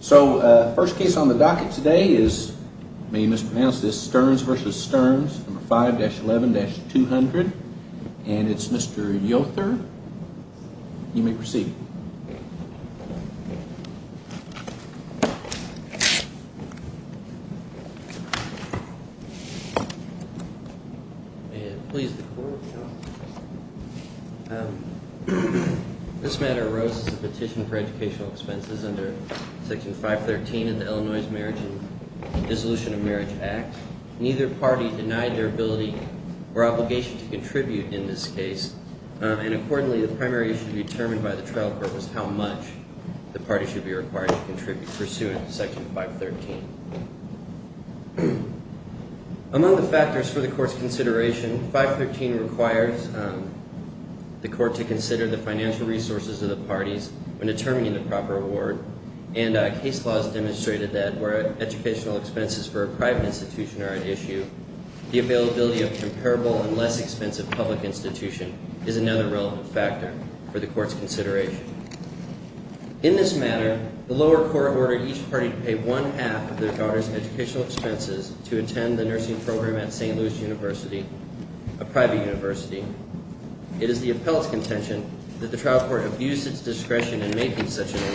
So, first case on the docket today is, may I mispronounce this, Stearns v. Stearns, 5-11-200, and it's Mr. Yother. You may proceed. May it please the Court, Your Honor. This matter arose as a petition for educational expenses under Section 513 of the Illinois Marriage and Dissolution of Marriage Act. Neither party denied their ability or obligation to contribute in this case, and accordingly, the primary issue determined by the trial court was how much the party should be required to contribute pursuant to Section 513. Among the factors for the Court's consideration, 513 requires the Court to consider the financial resources of the parties when determining the proper award, and case laws demonstrated that where educational expenses for a private institution are at issue, the availability of comparable and less expensive public institution is another relevant factor for the Court's consideration. In this matter, the lower court ordered each party to pay one-half of their daughter's educational expenses to attend the nursing program at St. Louis University, a private university. It is the appellate's contention that the trial court abuse its discretion in making such an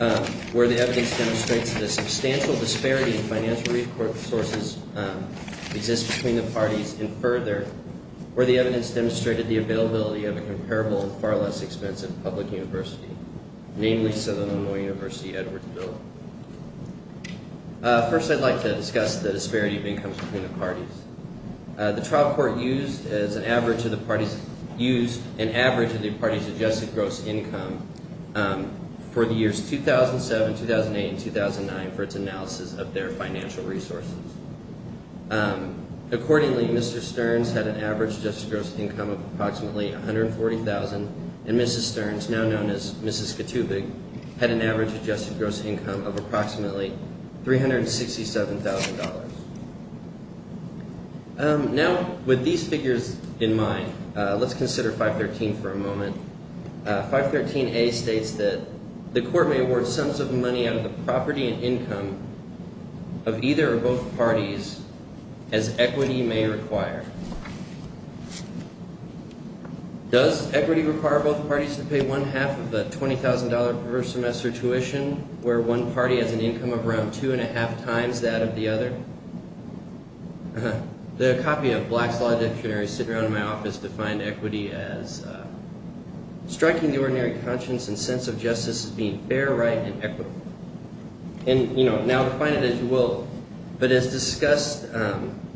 award, where the evidence demonstrates the substantial disparity in financial resources exists between the parties, and further, where the evidence demonstrated the availability of a comparable and far less expensive public university, namely Southern Illinois University-Edwardsville. First, I'd like to discuss the disparity of incomes between the parties. The trial court used an average of the parties' adjusted gross income for the years 2007, 2008, and 2009 for its analysis of their financial resources. Accordingly, Mr. Stearns had an average adjusted gross income of approximately $140,000, and Mrs. Stearns, now known as Mrs. Katubig, had an average adjusted gross income of approximately $367,000. Now, with these figures in mind, let's consider 513 for a moment. 513a states that the court may award sums of money out of the property and income of either or both parties as equity may require. Does equity require both parties to pay one half of the $20,000 per semester tuition, where one party has an income of around two and a half times that of the other? The copy of Black's Law Dictionary sitting around in my office defined equity as striking the ordinary conscience and sense of justice as being fair, right, and equitable. And now define it as you will, but as discussed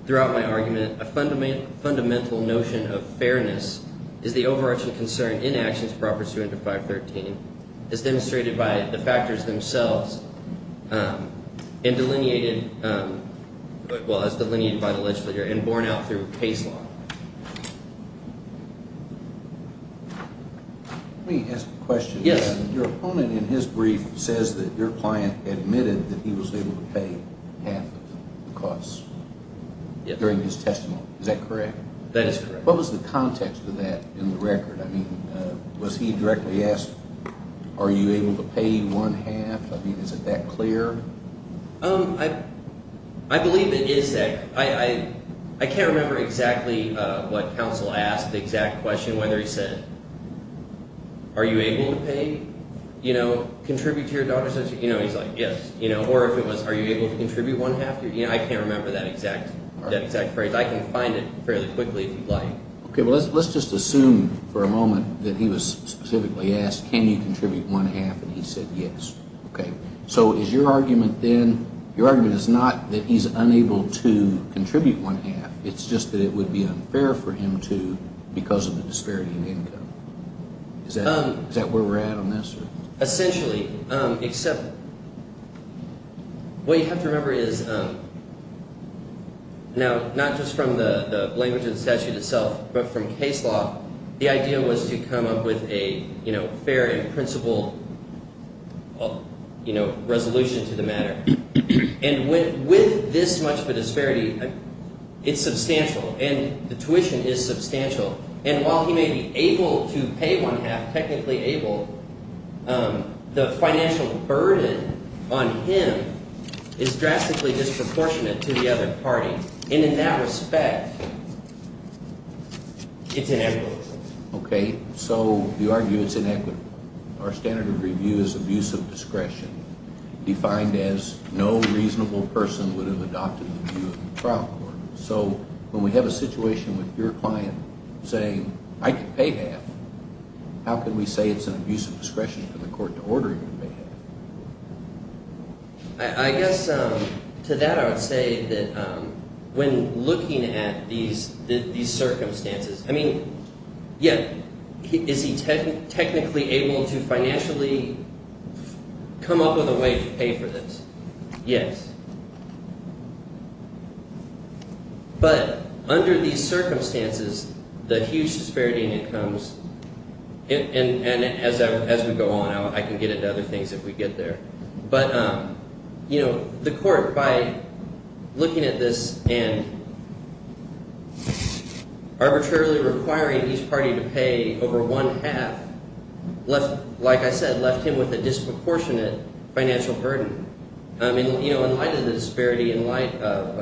throughout my argument, a fundamental notion of fairness is the overarching concern in actions proper suited to 513 as demonstrated by the factors themselves and delineated – well, as delineated by the legislature and borne out through case law. Let me ask a question. Your opponent in his brief says that your client admitted that he was able to pay half of the costs during his testimony. Is that correct? That is correct. What was the context of that in the record? I mean, was he directly asked, are you able to pay one half? I mean, is it that clear? I believe it is that – I can't remember exactly what counsel asked, the exact question, whether he said, are you able to pay, contribute to your daughter's education? He's like, yes. Or if it was, are you able to contribute one half? I can't remember that exact phrase. I can find it fairly quickly if you'd like. Okay. Well, let's just assume for a moment that he was specifically asked, can you contribute one half, and he said yes. Okay. So is your argument then – your argument is not that he's unable to contribute one half. It's just that it would be unfair for him to because of the disparity in income. Is that where we're at on this? Essentially, except what you have to remember is now not just from the language of the statute itself but from case law, the idea was to come up with a fair and principled resolution to the matter. And with this much of a disparity, it's substantial, and the tuition is substantial. And while he may be able to pay one half, technically able, the financial burden on him is drastically disproportionate to the other party. And in that respect, it's inequitable. Okay. So you argue it's inequitable. Our standard of review is abuse of discretion, defined as no reasonable person would have adopted the view of the trial court. So when we have a situation with your client saying I can pay half, how can we say it's an abuse of discretion for the court to order him to pay half? I guess to that I would say that when looking at these circumstances – I mean, yeah, is he technically able to financially come up with a way to pay for this? Yes. But under these circumstances, the huge disparity in incomes – and as we go on, I can get into other things if we get there. But the court, by looking at this and arbitrarily requiring each party to pay over one half, like I said, left him with a disproportionate financial burden. I mean, in light of the disparity, in light of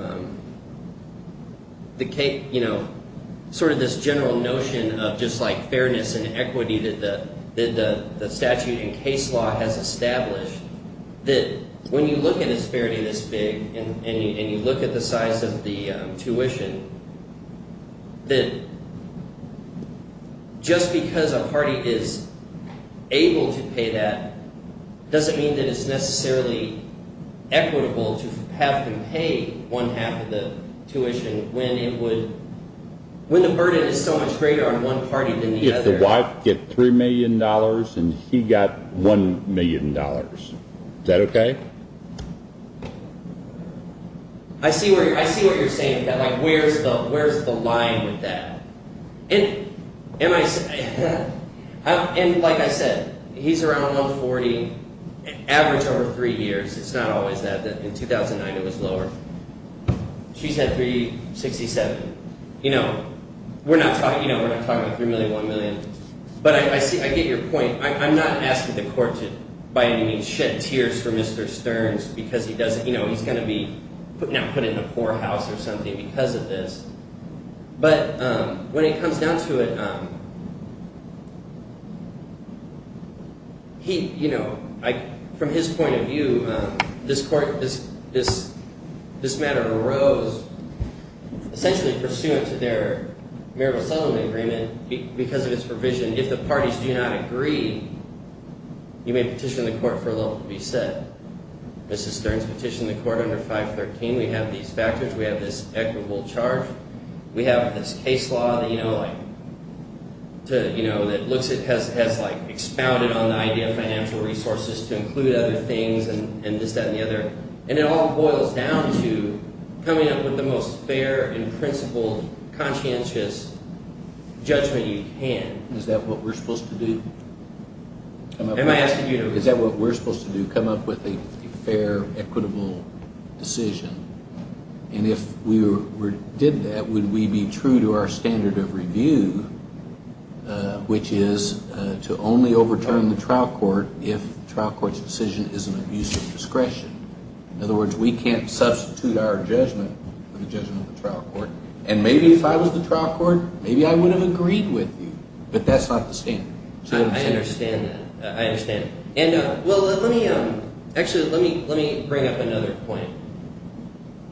sort of this general notion of just like fairness and equity that the statute and case law has established, that when you look at a disparity this big and you look at the size of the tuition, that just because a party is able to pay that doesn't mean that it's necessarily equitable to have them pay one half of the tuition when it would – when the burden is so much greater on one party than the other. If the wife gets $3 million and he got $1 million, is that okay? I see what you're saying, that like where's the line with that. And like I said, he's around $140,000, average over three years. It's not always that. In 2009, it was lower. She's at $367,000. We're not talking about $3 million, $1 million. But I see – I get your point. I'm not asking the court to, by any means, shed tears for Mr. Stearns because he doesn't – he's going to be now put in a poor house or something because of this. But when it comes down to it, he – from his point of view, this matter arose essentially pursuant to their Marable-Solomon Agreement because of its provision. If the parties do not agree, you may petition the court for a level to be set. Mrs. Stearns petitioned the court under 513. We have these factors. We have this equitable charge. We have this case law that looks at – has expounded on the idea of financial resources to include other things and this, that, and the other. And it all boils down to coming up with the most fair and principled, conscientious judgment you can. Is that what we're supposed to do? Am I asking you to – Is that what we're supposed to do, come up with a fair, equitable decision? And if we did that, would we be true to our standard of review, which is to only overturn the trial court if the trial court's decision is an abuse of discretion? In other words, we can't substitute our judgment for the judgment of the trial court. And maybe if I was the trial court, maybe I would have agreed with you. But that's not the standard. I understand that. I understand. And well, let me – actually, let me bring up another point.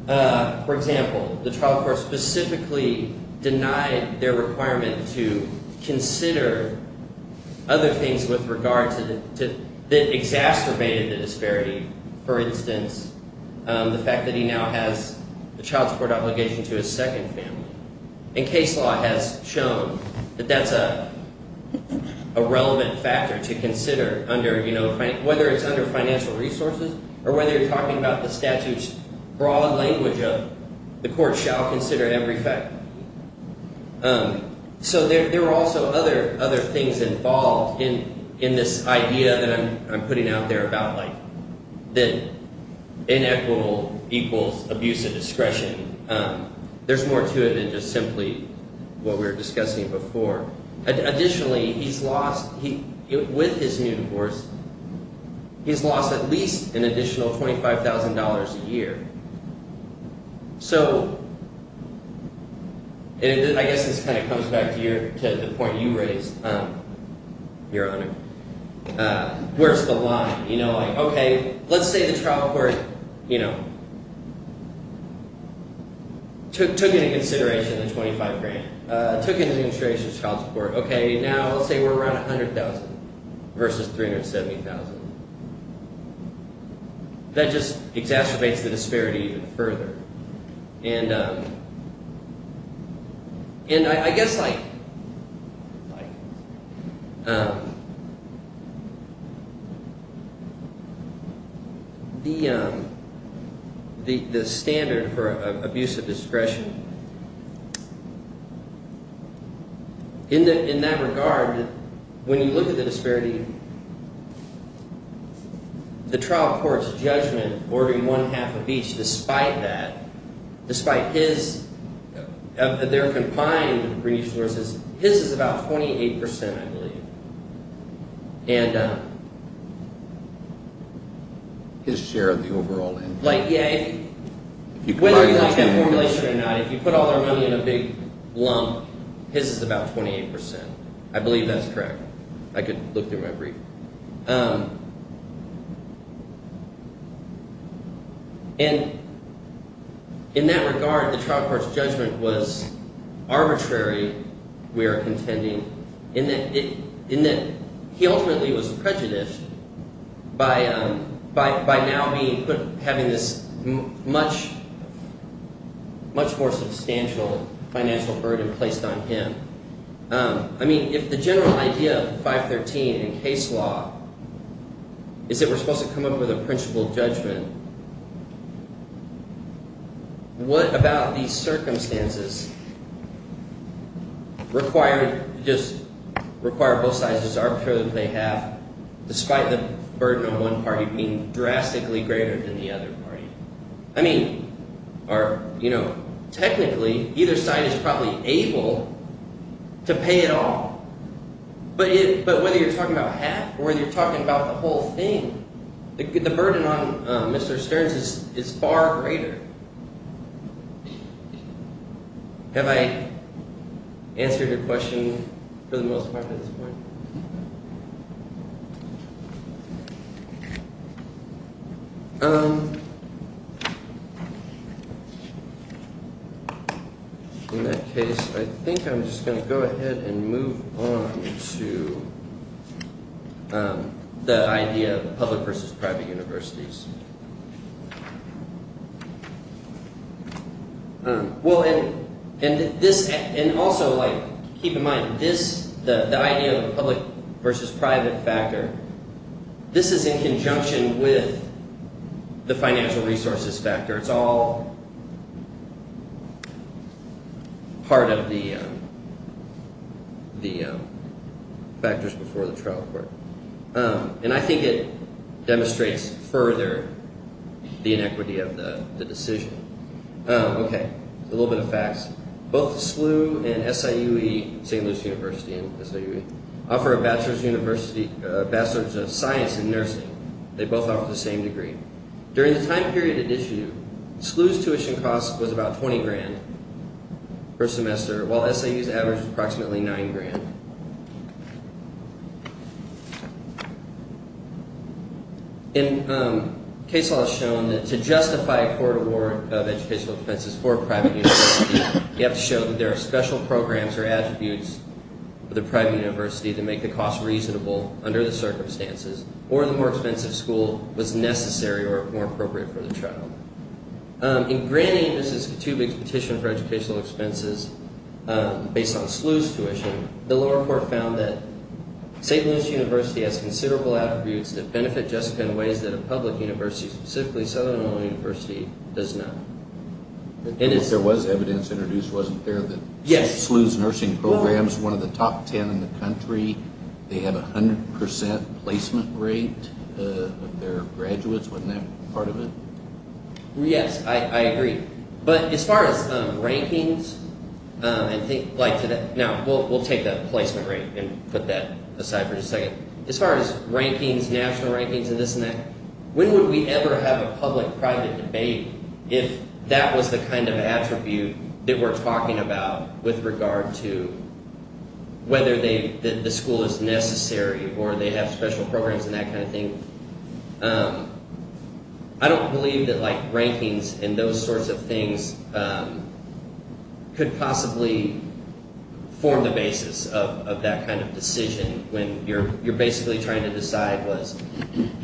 For example, the trial court specifically denied their requirement to consider other things with regard to – that exacerbated the disparity. For instance, the fact that he now has a child support obligation to his second family. And case law has shown that that's a relevant factor to consider under – whether it's under financial resources or whether you're talking about the statute's broad language of the court shall consider every fact. So there are also other things involved in this idea that I'm putting out there about, like, that inequitable equals abuse of discretion. There's more to it than just simply what we were discussing before. Additionally, he's lost – with his new course, he's lost at least an additional $25,000 a year. So I guess this kind of comes back to the point you raised, Your Honor, where it's the line. You know, like, okay, let's say the trial court took into consideration the $25,000 grant, took into consideration child support. Okay, now let's say we're around $100,000 versus $370,000. That just exacerbates the disparity even further. And I guess, like, the standard for abuse of discretion, in that regard, when you look at the disparity, the trial court's judgment ordering one-half of each despite that… …despite his – of their combined resources, his is about 28 percent, I believe. And… His share of the overall income. Like, yeah, whether you like that formulation or not, if you put all their money in a big lump, his is about 28 percent. I believe that's correct. I could look through my brief. And in that regard, the trial court's judgment was arbitrary, we are contending, in that it – in that he ultimately was prejudiced by now being – having this much more substantial financial burden placed on him. I mean, if the general idea of 513 in case law is that we're supposed to come up with a principled judgment, what about these circumstances require – just require both sides to just arbitrarily play half despite the burden on one party being drastically greater than the other party? I mean – or technically, either side is probably able to pay it all, but whether you're talking about half or whether you're talking about the whole thing, the burden on Mr. Stearns is far greater. Have I answered your question for the most part at this point? In that case, I think I'm just going to go ahead and move on to the idea of public versus private universities. Well, and this – and also, like, keep in mind, this – the idea of a public versus private factor, this is in conjunction with the financial resources factor. It's all part of the factors before the trial court. And I think it demonstrates further the inequity of the decision. Okay, a little bit of facts. Both SLU and SIUE – St. Louis University and SIUE – offer a bachelor's of science in nursing. They both offer the same degree. During the time period at issue, SLU's tuition cost was about $20,000 per semester, while SIUE's average was approximately $9,000. And case law has shown that to justify a court award of educational expenses for a private university, you have to show that there are special programs or attributes for the private university to make the cost reasonable under the circumstances, or the more expensive school was necessary or more appropriate for the trial. In granting Mrs. Katubek's petition for educational expenses based on SLU's tuition, the lower court found that St. Louis University has considerable attributes that benefit Jessica in ways that a public university, specifically Southern Illinois University, does not. There was evidence introduced, wasn't there, that SLU's nursing program is one of the top ten in the country. They have a 100% placement rate of their graduates. Wasn't that part of it? Yes, I agree. But as far as rankings, I think – now, we'll take that placement rate and put that aside for just a second. But as far as rankings, national rankings and this and that, when would we ever have a public-private debate if that was the kind of attribute that we're talking about with regard to whether the school is necessary or they have special programs and that kind of thing? I don't believe that rankings and those sorts of things could possibly form the basis of that kind of decision when you're basically trying to decide was –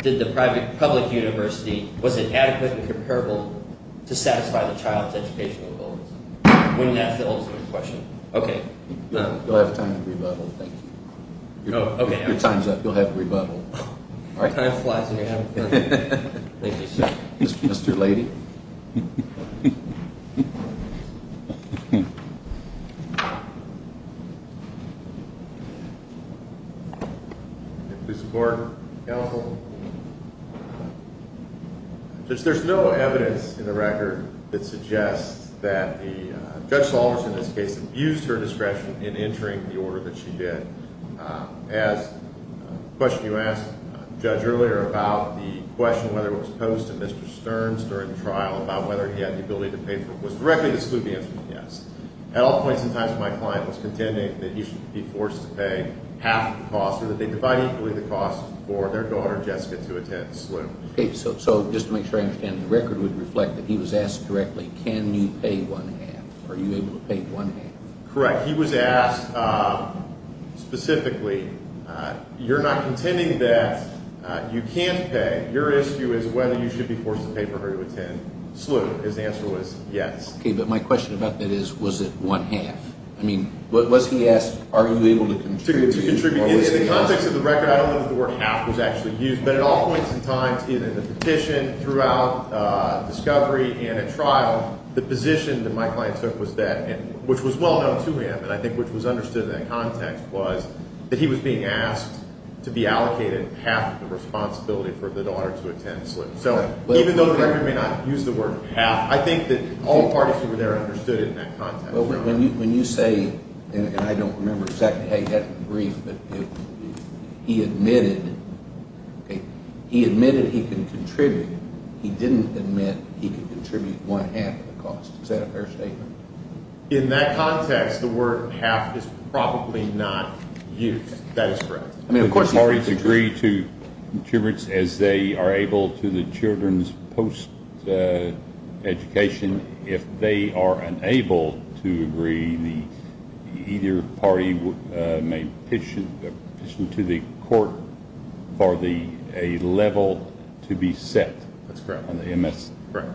did the private-public university – was it adequate and comparable to satisfy the child's educational goals? Wouldn't that fill the question? You'll have time to rebuttal, thank you. Your time's up. You'll have to rebuttal. Time flies when you're having fun. Thank you, sir. Mr. Lady? Thank you, Mr. Gordon. Counsel? Since there's no evidence in the record that suggests that Judge Salvers, in this case, abused her discretion in entering the order that she did, as a question you asked, Judge, earlier about the question whether it was posed to Mr. Stearns during the trial about whether he had the ability to pay for – was directly to SLUB the answer was yes. At all points in time, my client was contending that he should be forced to pay half the cost or that they divide equally the cost for their daughter, Jessica, to attend SLUB. Okay, so just to make sure I understand, the record would reflect that he was asked directly, can you pay one half? Are you able to pay one half? Correct. He was asked specifically, you're not contending that you can't pay. Your issue is whether you should be forced to pay for her to attend SLUB. His answer was yes. Okay, but my question about that is, was it one half? I mean, was he asked, are you able to contribute? To contribute. In the context of the record, I don't know if the word half was actually used, but at all points in time, in the petition, throughout discovery and at trial, the position that my client took was that, which was well known to him and I think which was understood in that context was that he was being asked to be allocated half of the responsibility for the daughter to attend SLUB. So even though the record may not use the word half, I think that all parties who were there understood it in that context. When you say, and I don't remember exactly how you had it in the brief, but he admitted he can contribute. He didn't admit he could contribute one half of the cost. Is that a fair statement? In that context, the word half is probably not used. That is correct. I mean, of course, parties agree to contributes as they are able to the children's post-education. If they are unable to agree, either party may pitch to the court for a level to be set. That's correct. On the MS. Correct.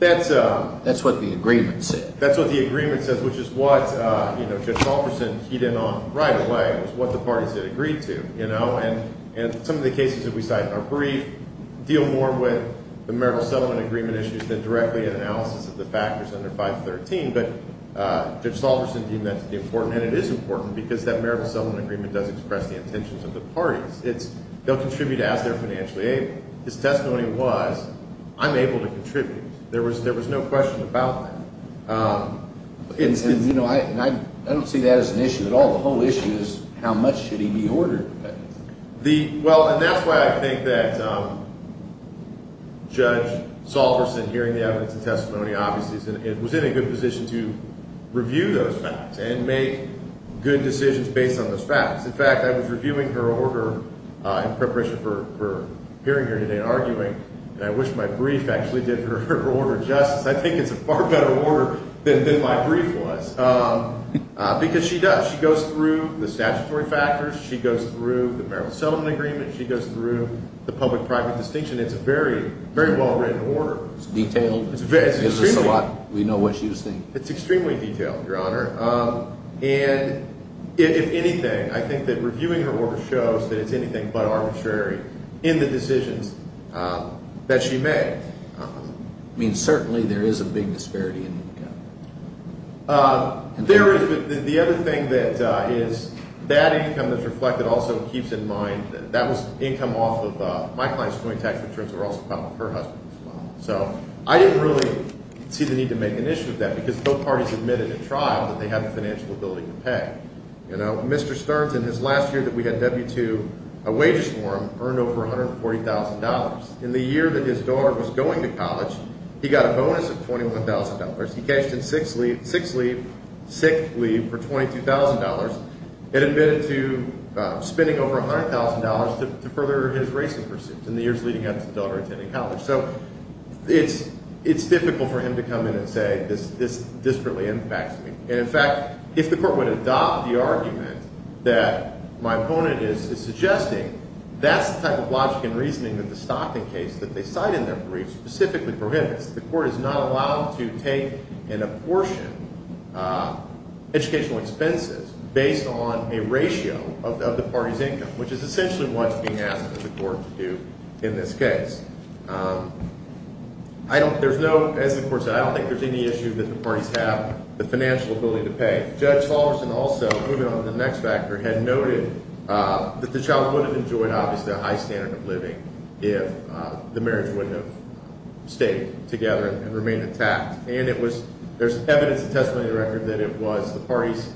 That's what the agreement said. That's what the agreement said, which is what Judge Wolferson hit in on right away, was what the parties had agreed to. And some of the cases that we cite in our brief deal more with the marital settlement agreement issues than directly an analysis of the factors under 513. But Judge Wolferson deemed that to be important, and it is important because that marital settlement agreement does express the intentions of the parties. They'll contribute to ask their financial aid. His testimony was, I'm able to contribute. There was no question about that. And I don't see that as an issue at all. The whole issue is how much should he be ordered to pay. Well, and that's why I think that Judge Wolferson, hearing the evidence and testimony, obviously was in a good position to review those facts and make good decisions based on those facts. In fact, I was reviewing her order in preparation for appearing here today and arguing, and I wish my brief actually did her order justice. I think it's a far better order than my brief was, because she does. She goes through the statutory factors. She goes through the marital settlement agreement. She goes through the public-private distinction. It's a very, very well-written order. It's detailed. It's extremely— It gives us a lot. We know what she was saying. It's extremely detailed, Your Honor. And if anything, I think that reviewing her order shows that it's anything but arbitrary in the decisions that she made. I mean, certainly there is a big disparity in income. There is, but the other thing that is—that income that's reflected also keeps in mind that that was income off of— my client's joint tax returns were also filed with her husband as well. So I didn't really see the need to make an issue of that, because both parties admitted in trial that they had the financial ability to pay. You know, Mr. Stearns, in his last year that we had W-2, a wages form earned over $140,000. In the year that his daughter was going to college, he got a bonus of $21,000. He cashed in sixth leave for $22,000 and admitted to spending over $100,000 to further his racing pursuits in the years leading up to the daughter attending college. So it's difficult for him to come in and say this disparately impacts me. And, in fact, if the court would adopt the argument that my opponent is suggesting, that's the type of logic and reasoning that the Stockton case that they cite in their brief specifically prohibits. The court is not allowed to take and apportion educational expenses based on a ratio of the party's income, which is essentially what's being asked of the court to do in this case. As the court said, I don't think there's any issue that the parties have the financial ability to pay. Judge Hollerson also, moving on to the next factor, had noted that the child would have enjoyed, obviously, a high standard of living if the marriage wouldn't have stayed together and remained intact. And it was – there's evidence in the testimony of the record that it was the parties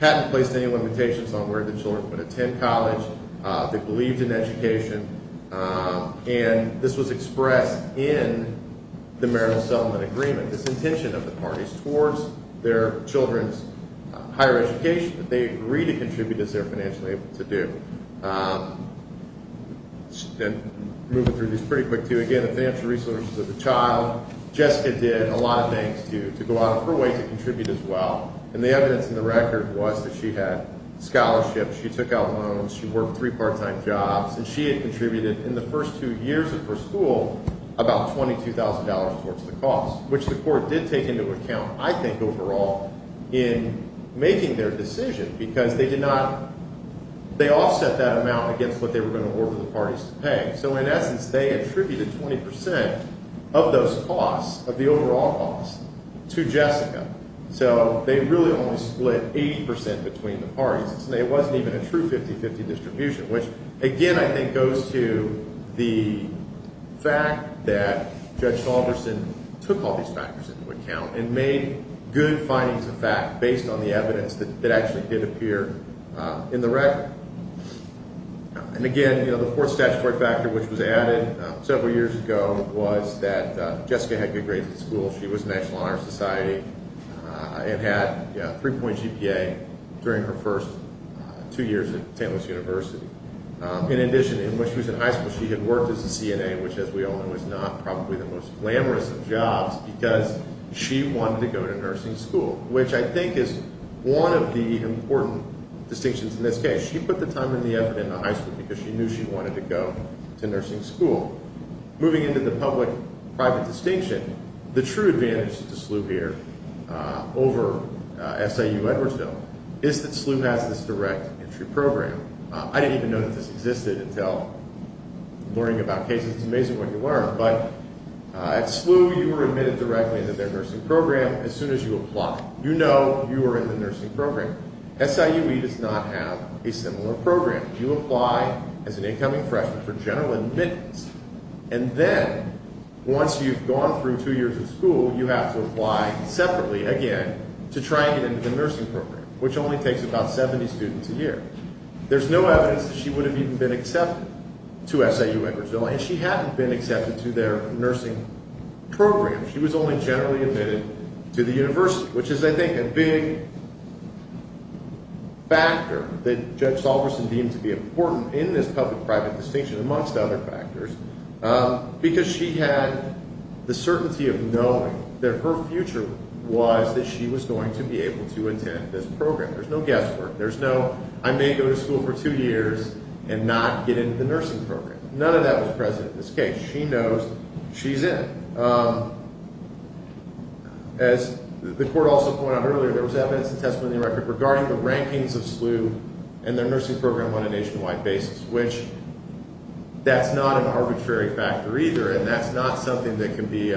hadn't placed any limitations on where the children would attend college. They believed in education. And this was expressed in the marital settlement agreement, this intention of the parties towards their children's higher education that they agree to contribute as they're financially able to do. And moving through these pretty quick too, again, the financial resources of the child, Jessica did a lot of things to go out of her way to contribute as well. And the evidence in the record was that she had scholarships, she took out loans, she worked three part-time jobs, and she had contributed in the first two years of her school about $22,000 towards the cost, which the court did take into account, I think, overall in making their decision because they did not – they offset that amount against what they were going to order the parties to pay. So, in essence, they attributed 20 percent of those costs, of the overall cost, to Jessica. So, they really only split 80 percent between the parties, and it wasn't even a true 50-50 distribution, which, again, I think goes to the fact that Judge Salderson took all these factors into account and made good findings of fact based on the evidence that actually did appear in the record. And again, the fourth statutory factor, which was added several years ago, was that Jessica had good grades in school. She was National Honor Society and had a three-point GPA during her first two years at St. Louis University. In addition, when she was in high school, she had worked as a CNA, which, as we all know, is not probably the most glamorous of jobs because she wanted to go to nursing school, which I think is one of the important distinctions in this case. She put the time and the effort into high school because she knew she wanted to go to nursing school. Moving into the public-private distinction, the true advantage to SLU here over SIU-Edwardsville is that SLU has this direct entry program. I didn't even know that this existed until learning about cases. It's amazing what you learn, but at SLU, you were admitted directly into their nursing program as soon as you apply. You know you are in the nursing program. SIUE does not have a similar program. You apply as an incoming freshman for general admittance, and then once you've gone through two years of school, you have to apply separately again to try and get into the nursing program, which only takes about 70 students a year. There's no evidence that she would have even been accepted to SIU-Edwardsville, and she hadn't been accepted to their nursing program. She was only generally admitted to the university, which is, I think, a big factor that Judge Salverson deemed to be important in this public-private distinction, amongst other factors, because she had the certainty of knowing that her future was that she was going to be able to attend this program. There's no guesswork. There's no, I may go to school for two years and not get into the nursing program. None of that was present in this case. She knows she's in. As the court also pointed out earlier, there was evidence and testimony in the record regarding the rankings of SLU and their nursing program on a nationwide basis, which that's not an arbitrary factor either, and that's not something that can be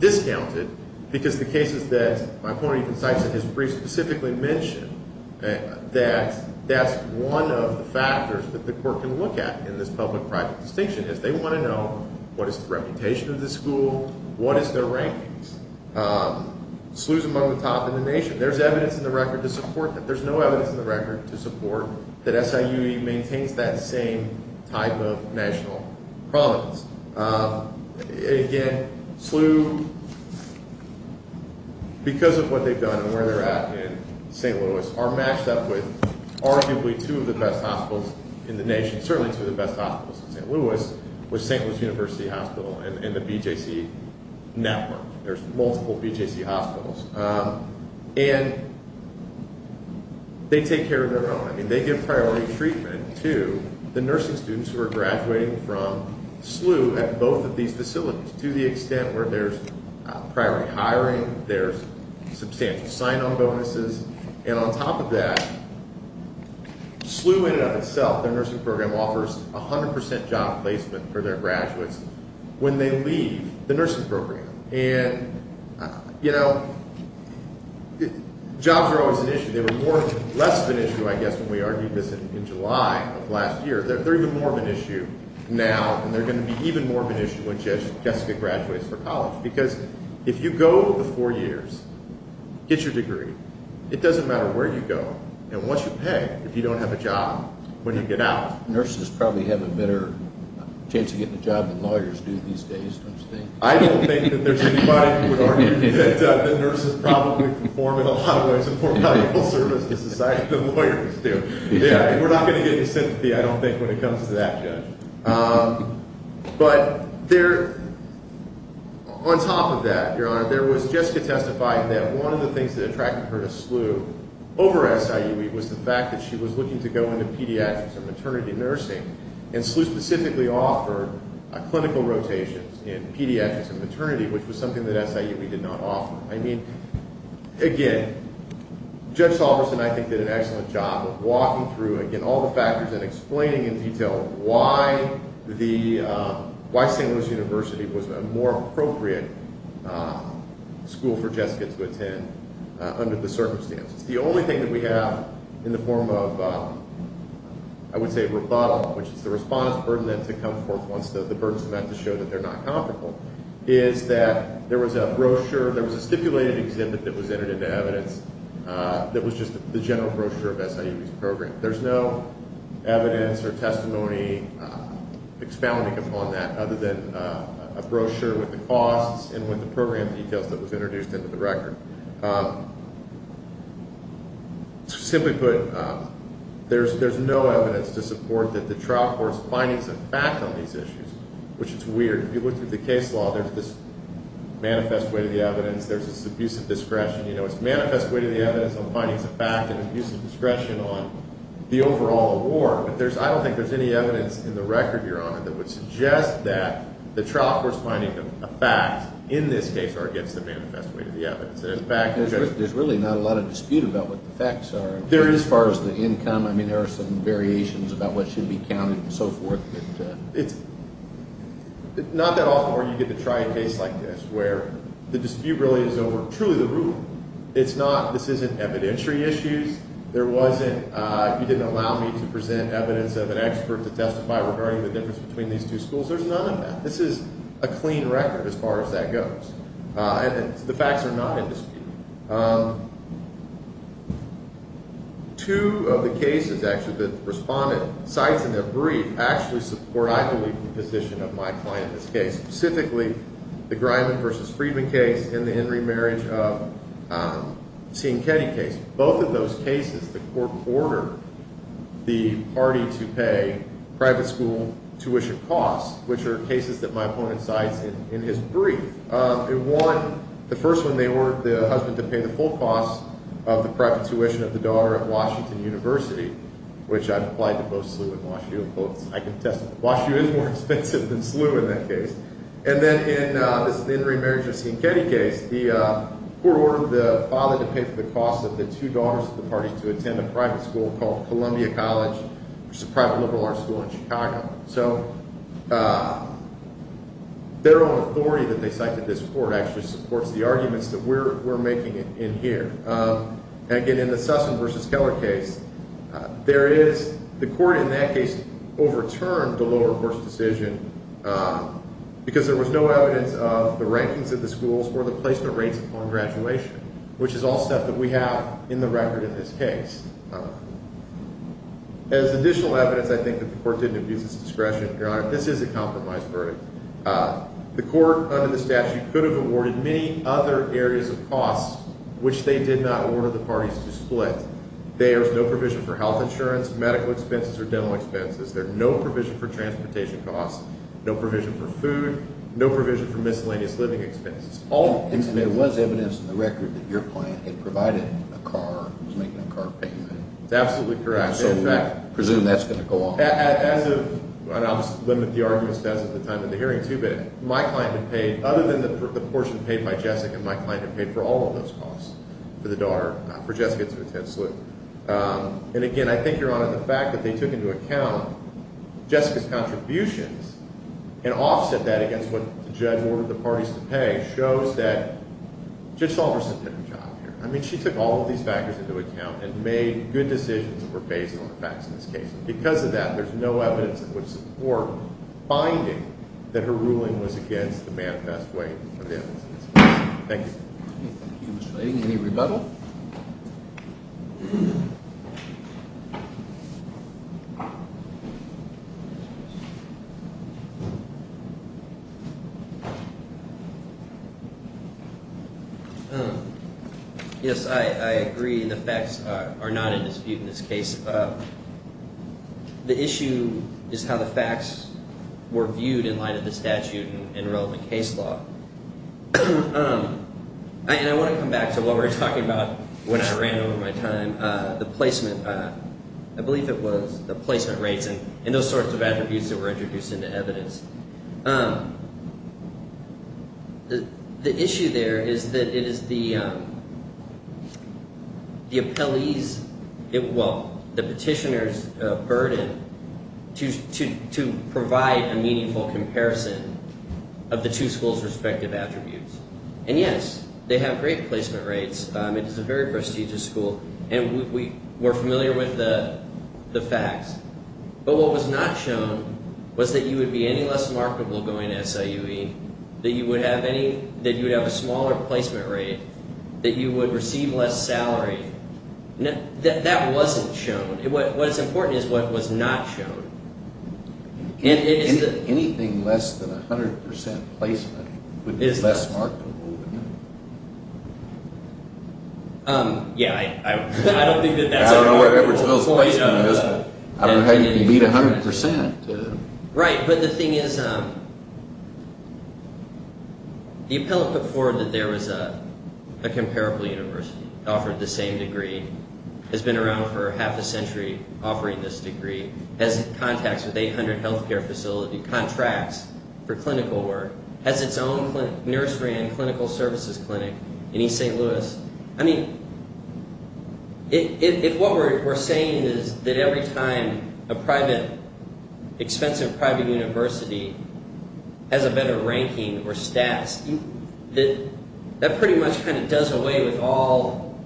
discounted, because the cases that my opponent even cites in his brief specifically mention that that's one of the factors that the court can look at in this public-private distinction, is they want to know what is the reputation of the school, what is their rankings. SLU is among the top in the nation. There's evidence in the record to support that. There's no evidence in the record to support that SIUE maintains that same type of national prominence. Again, SLU, because of what they've done and where they're at in St. Louis, are matched up with arguably two of the best hospitals in the nation, certainly two of the best hospitals in St. Louis, which is St. Louis University Hospital and the BJC network. There's multiple BJC hospitals. And they take care of their own. I mean, they give priority treatment to the nursing students who are graduating from SLU at both of these facilities, to the extent where there's priority hiring, there's substantial sign-on bonuses, and on top of that, SLU in and of itself, their nursing program, offers 100% job placement for their graduates when they leave the nursing program. And, you know, jobs are always an issue. They were less of an issue, I guess, when we argued this in July of last year. They're even more of an issue now, and they're going to be even more of an issue when Jessica graduates from college. Because if you go the four years, get your degree, it doesn't matter where you go. And what you pay if you don't have a job when you get out. Nurses probably have a better chance of getting a job than lawyers do these days, don't you think? I don't think that there's anybody who would argue that the nurses probably perform in a lot of ways a more valuable service to society than lawyers do. We're not going to get any sympathy, I don't think, when it comes to that, Judge. But there, on top of that, Your Honor, there was Jessica testifying that one of the things that attracted her to SLU over SIUE was the fact that she was looking to go into pediatrics or maternity nursing. And SLU specifically offered clinical rotations in pediatrics and maternity, which was something that SIUE did not offer. I mean, again, Judge Salverson, I think, did an excellent job of walking through, again, all the factors and explaining in detail why St. Louis University was a more appropriate school for Jessica to attend under the circumstances. The only thing that we have in the form of, I would say, rebuttal, which is the respondent's burden then to come forth once the burden's met to show that they're not comfortable, is that there was a brochure, there was a stipulated exhibit that was entered into evidence that was just the general brochure of SLU's program. There's no evidence or testimony expounding upon that other than a brochure with the costs and with the program details that was introduced into the record. Simply put, there's no evidence to support that the trial court's findings of fact on these issues, which is weird. If you look through the case law, there's this manifest way to the evidence, there's this abuse of discretion. You know, it's manifest way to the evidence on findings of fact and abuse of discretion on the overall award, but I don't think there's any evidence in the record, Your Honor, that would suggest that the trial court's finding of fact in this case are against the manifest way to the evidence. There's really not a lot of dispute about what the facts are as far as the income. I mean, there are some variations about what should be counted and so forth. It's not that often where you get to try a case like this where the dispute really is over truly the rule. It's not, this isn't evidentiary issues. There wasn't, you didn't allow me to present evidence of an expert to testify regarding the difference between these two schools. There's none of that. This is a clean record as far as that goes. And the facts are not in dispute. Two of the cases, actually, that the respondent cites in their brief actually support, I believe, the position of my client in this case, specifically the Griman v. Friedman case and the Henry Marriage of Sienkiewicz case. Both of those cases, the court ordered the party to pay private school tuition costs, which are cases that my opponent cites in his brief. In one, the first one, they ordered the husband to pay the full cost of the private tuition of the daughter at Washington University, which I've applied to both SLU and WashU. I can attest to that. WashU is more expensive than SLU in that case. And then in this Henry Marriage of Sienkiewicz case, the court ordered the father to pay for the cost of the two daughters of the party to attend a private school called Columbia College, which is a private liberal arts school in Chicago. So their own authority that they cite in this court actually supports the arguments that we're making in here. And, again, in the Sussman v. Keller case, there is the court in that case overturned the lower court's decision because there was no evidence of the rankings of the schools or the placement rates upon graduation, which is all stuff that we have in the record in this case. As additional evidence, I think, that the court didn't abuse its discretion, Your Honor, this is a compromised verdict. The court, under the statute, could have awarded many other areas of costs, which they did not order the parties to split. There's no provision for health insurance, medical expenses, or dental expenses. There's no provision for transportation costs, no provision for food, no provision for miscellaneous living expenses. And there was evidence in the record that your client had provided a car, was making a car payment. That's absolutely correct. So we presume that's going to go on. As of, and I'll just limit the arguments to as of the time of the hearing, too, but my client had paid, other than the portion paid by Jessica, my client had paid for all of those costs for the daughter, not for Jessica, to attend SLU. And, again, I think, Your Honor, the fact that they took into account Jessica's contributions and offset that against what the judge ordered the parties to pay shows that Judge Saunders did a good job here. I mean, she took all of these factors into account and made good decisions that were based on the facts in this case. Because of that, there's no evidence that would support finding that her ruling was against the manifest way of evidence. Thank you. Thank you, Mr. Leighton. Any rebuttal? Yes, I agree, and the facts are not in dispute in this case. The issue is how the facts were viewed in light of the statute and relevant case law. And I want to come back to what we were talking about when I ran over my time, the placement, I believe it was, the placement rates and those sorts of attributes that were introduced into evidence. The issue there is that it is the appellee's, well, the petitioner's, burden to provide a meaningful comparison of the two schools' respective attributes. And, yes, they have great placement rates. I mean, it's a very prestigious school, and we're familiar with the facts. But what was not shown was that you would be any less marketable going to SIUE, that you would have a smaller placement rate, that you would receive less salary. That wasn't shown. What's important is what was not shown. Anything less than 100 percent placement would be less marketable. Yeah, I don't think that that's a very good point. I don't know where Edward Smith's placement is, but I don't know how you can beat 100 percent. Right, but the thing is, the appellate put forward that there was a comparable university, offered the same degree, has been around for half a century, offering this degree, has contacts with 800 health care facility, contracts for clinical work, has its own nurse ran clinical services clinic in East St. Louis. I mean, if what we're saying is that every time a private, expensive private university has a better ranking or status, that pretty much kind of does away with all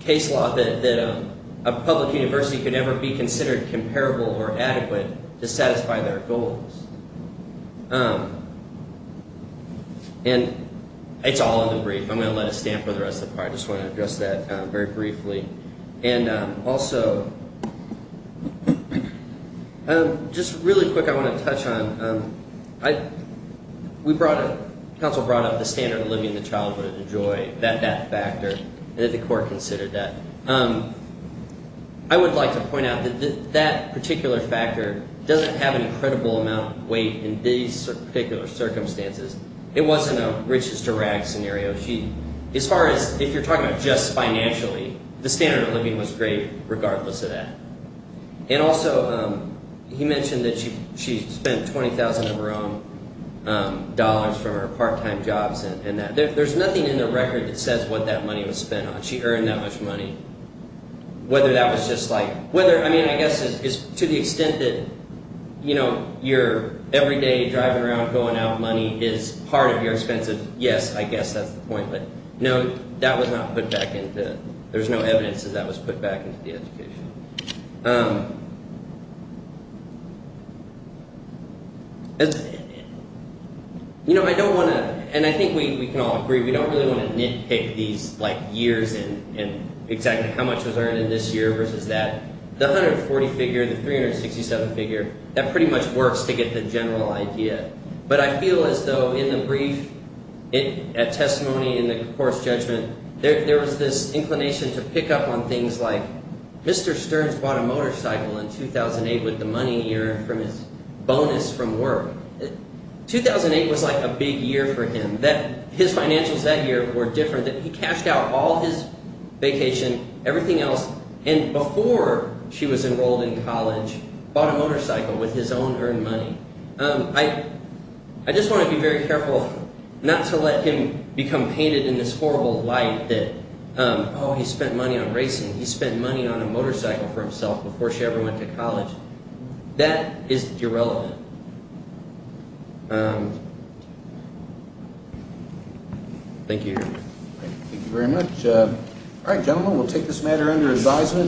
case law that a public university could ever be considered comparable or adequate to satisfy their goals. And it's all in the brief. I'm going to let it stand for the rest of the part. I just want to address that very briefly. And also, just really quick, I want to touch on, we brought up, counsel brought up the standard of living the child would enjoy, that factor, that the court considered that. I would like to point out that that particular factor doesn't have an incredible amount of weight in these particular circumstances. It wasn't a riches to rags scenario. As far as if you're talking about just financially, the standard of living was great regardless of that. And also, he mentioned that she spent $20,000 of her own dollars from her part-time jobs. And there's nothing in the record that says what that money was spent on. She earned that much money. Whether that was just like, whether, I mean, I guess to the extent that your everyday driving around, going out, money is part of your expenses, yes, I guess that's the point. But no, that was not put back into, there's no evidence that that was put back into the education. You know, I don't want to, and I think we can all agree, we don't really want to nitpick these like years and exactly how much was earned in this year versus that. The 140 figure, the 367 figure, that pretty much works to get the general idea. But I feel as though in the brief, at testimony, in the court's judgment, there was this inclination to pick up on things like Mr. Stearns bought a motorcycle in 2008 with the money he earned from his bonus from work. 2008 was like a big year for him. His financials that year were different. He cashed out all his vacation, everything else, and before she was enrolled in college, bought a motorcycle with his own earned money. I just want to be very careful not to let him become painted in this horrible light that, oh, he spent money on racing, he spent money on a motorcycle for himself before she ever went to college. That is irrelevant. Thank you. Thank you very much. All right, gentlemen, we'll take this matter under advisement.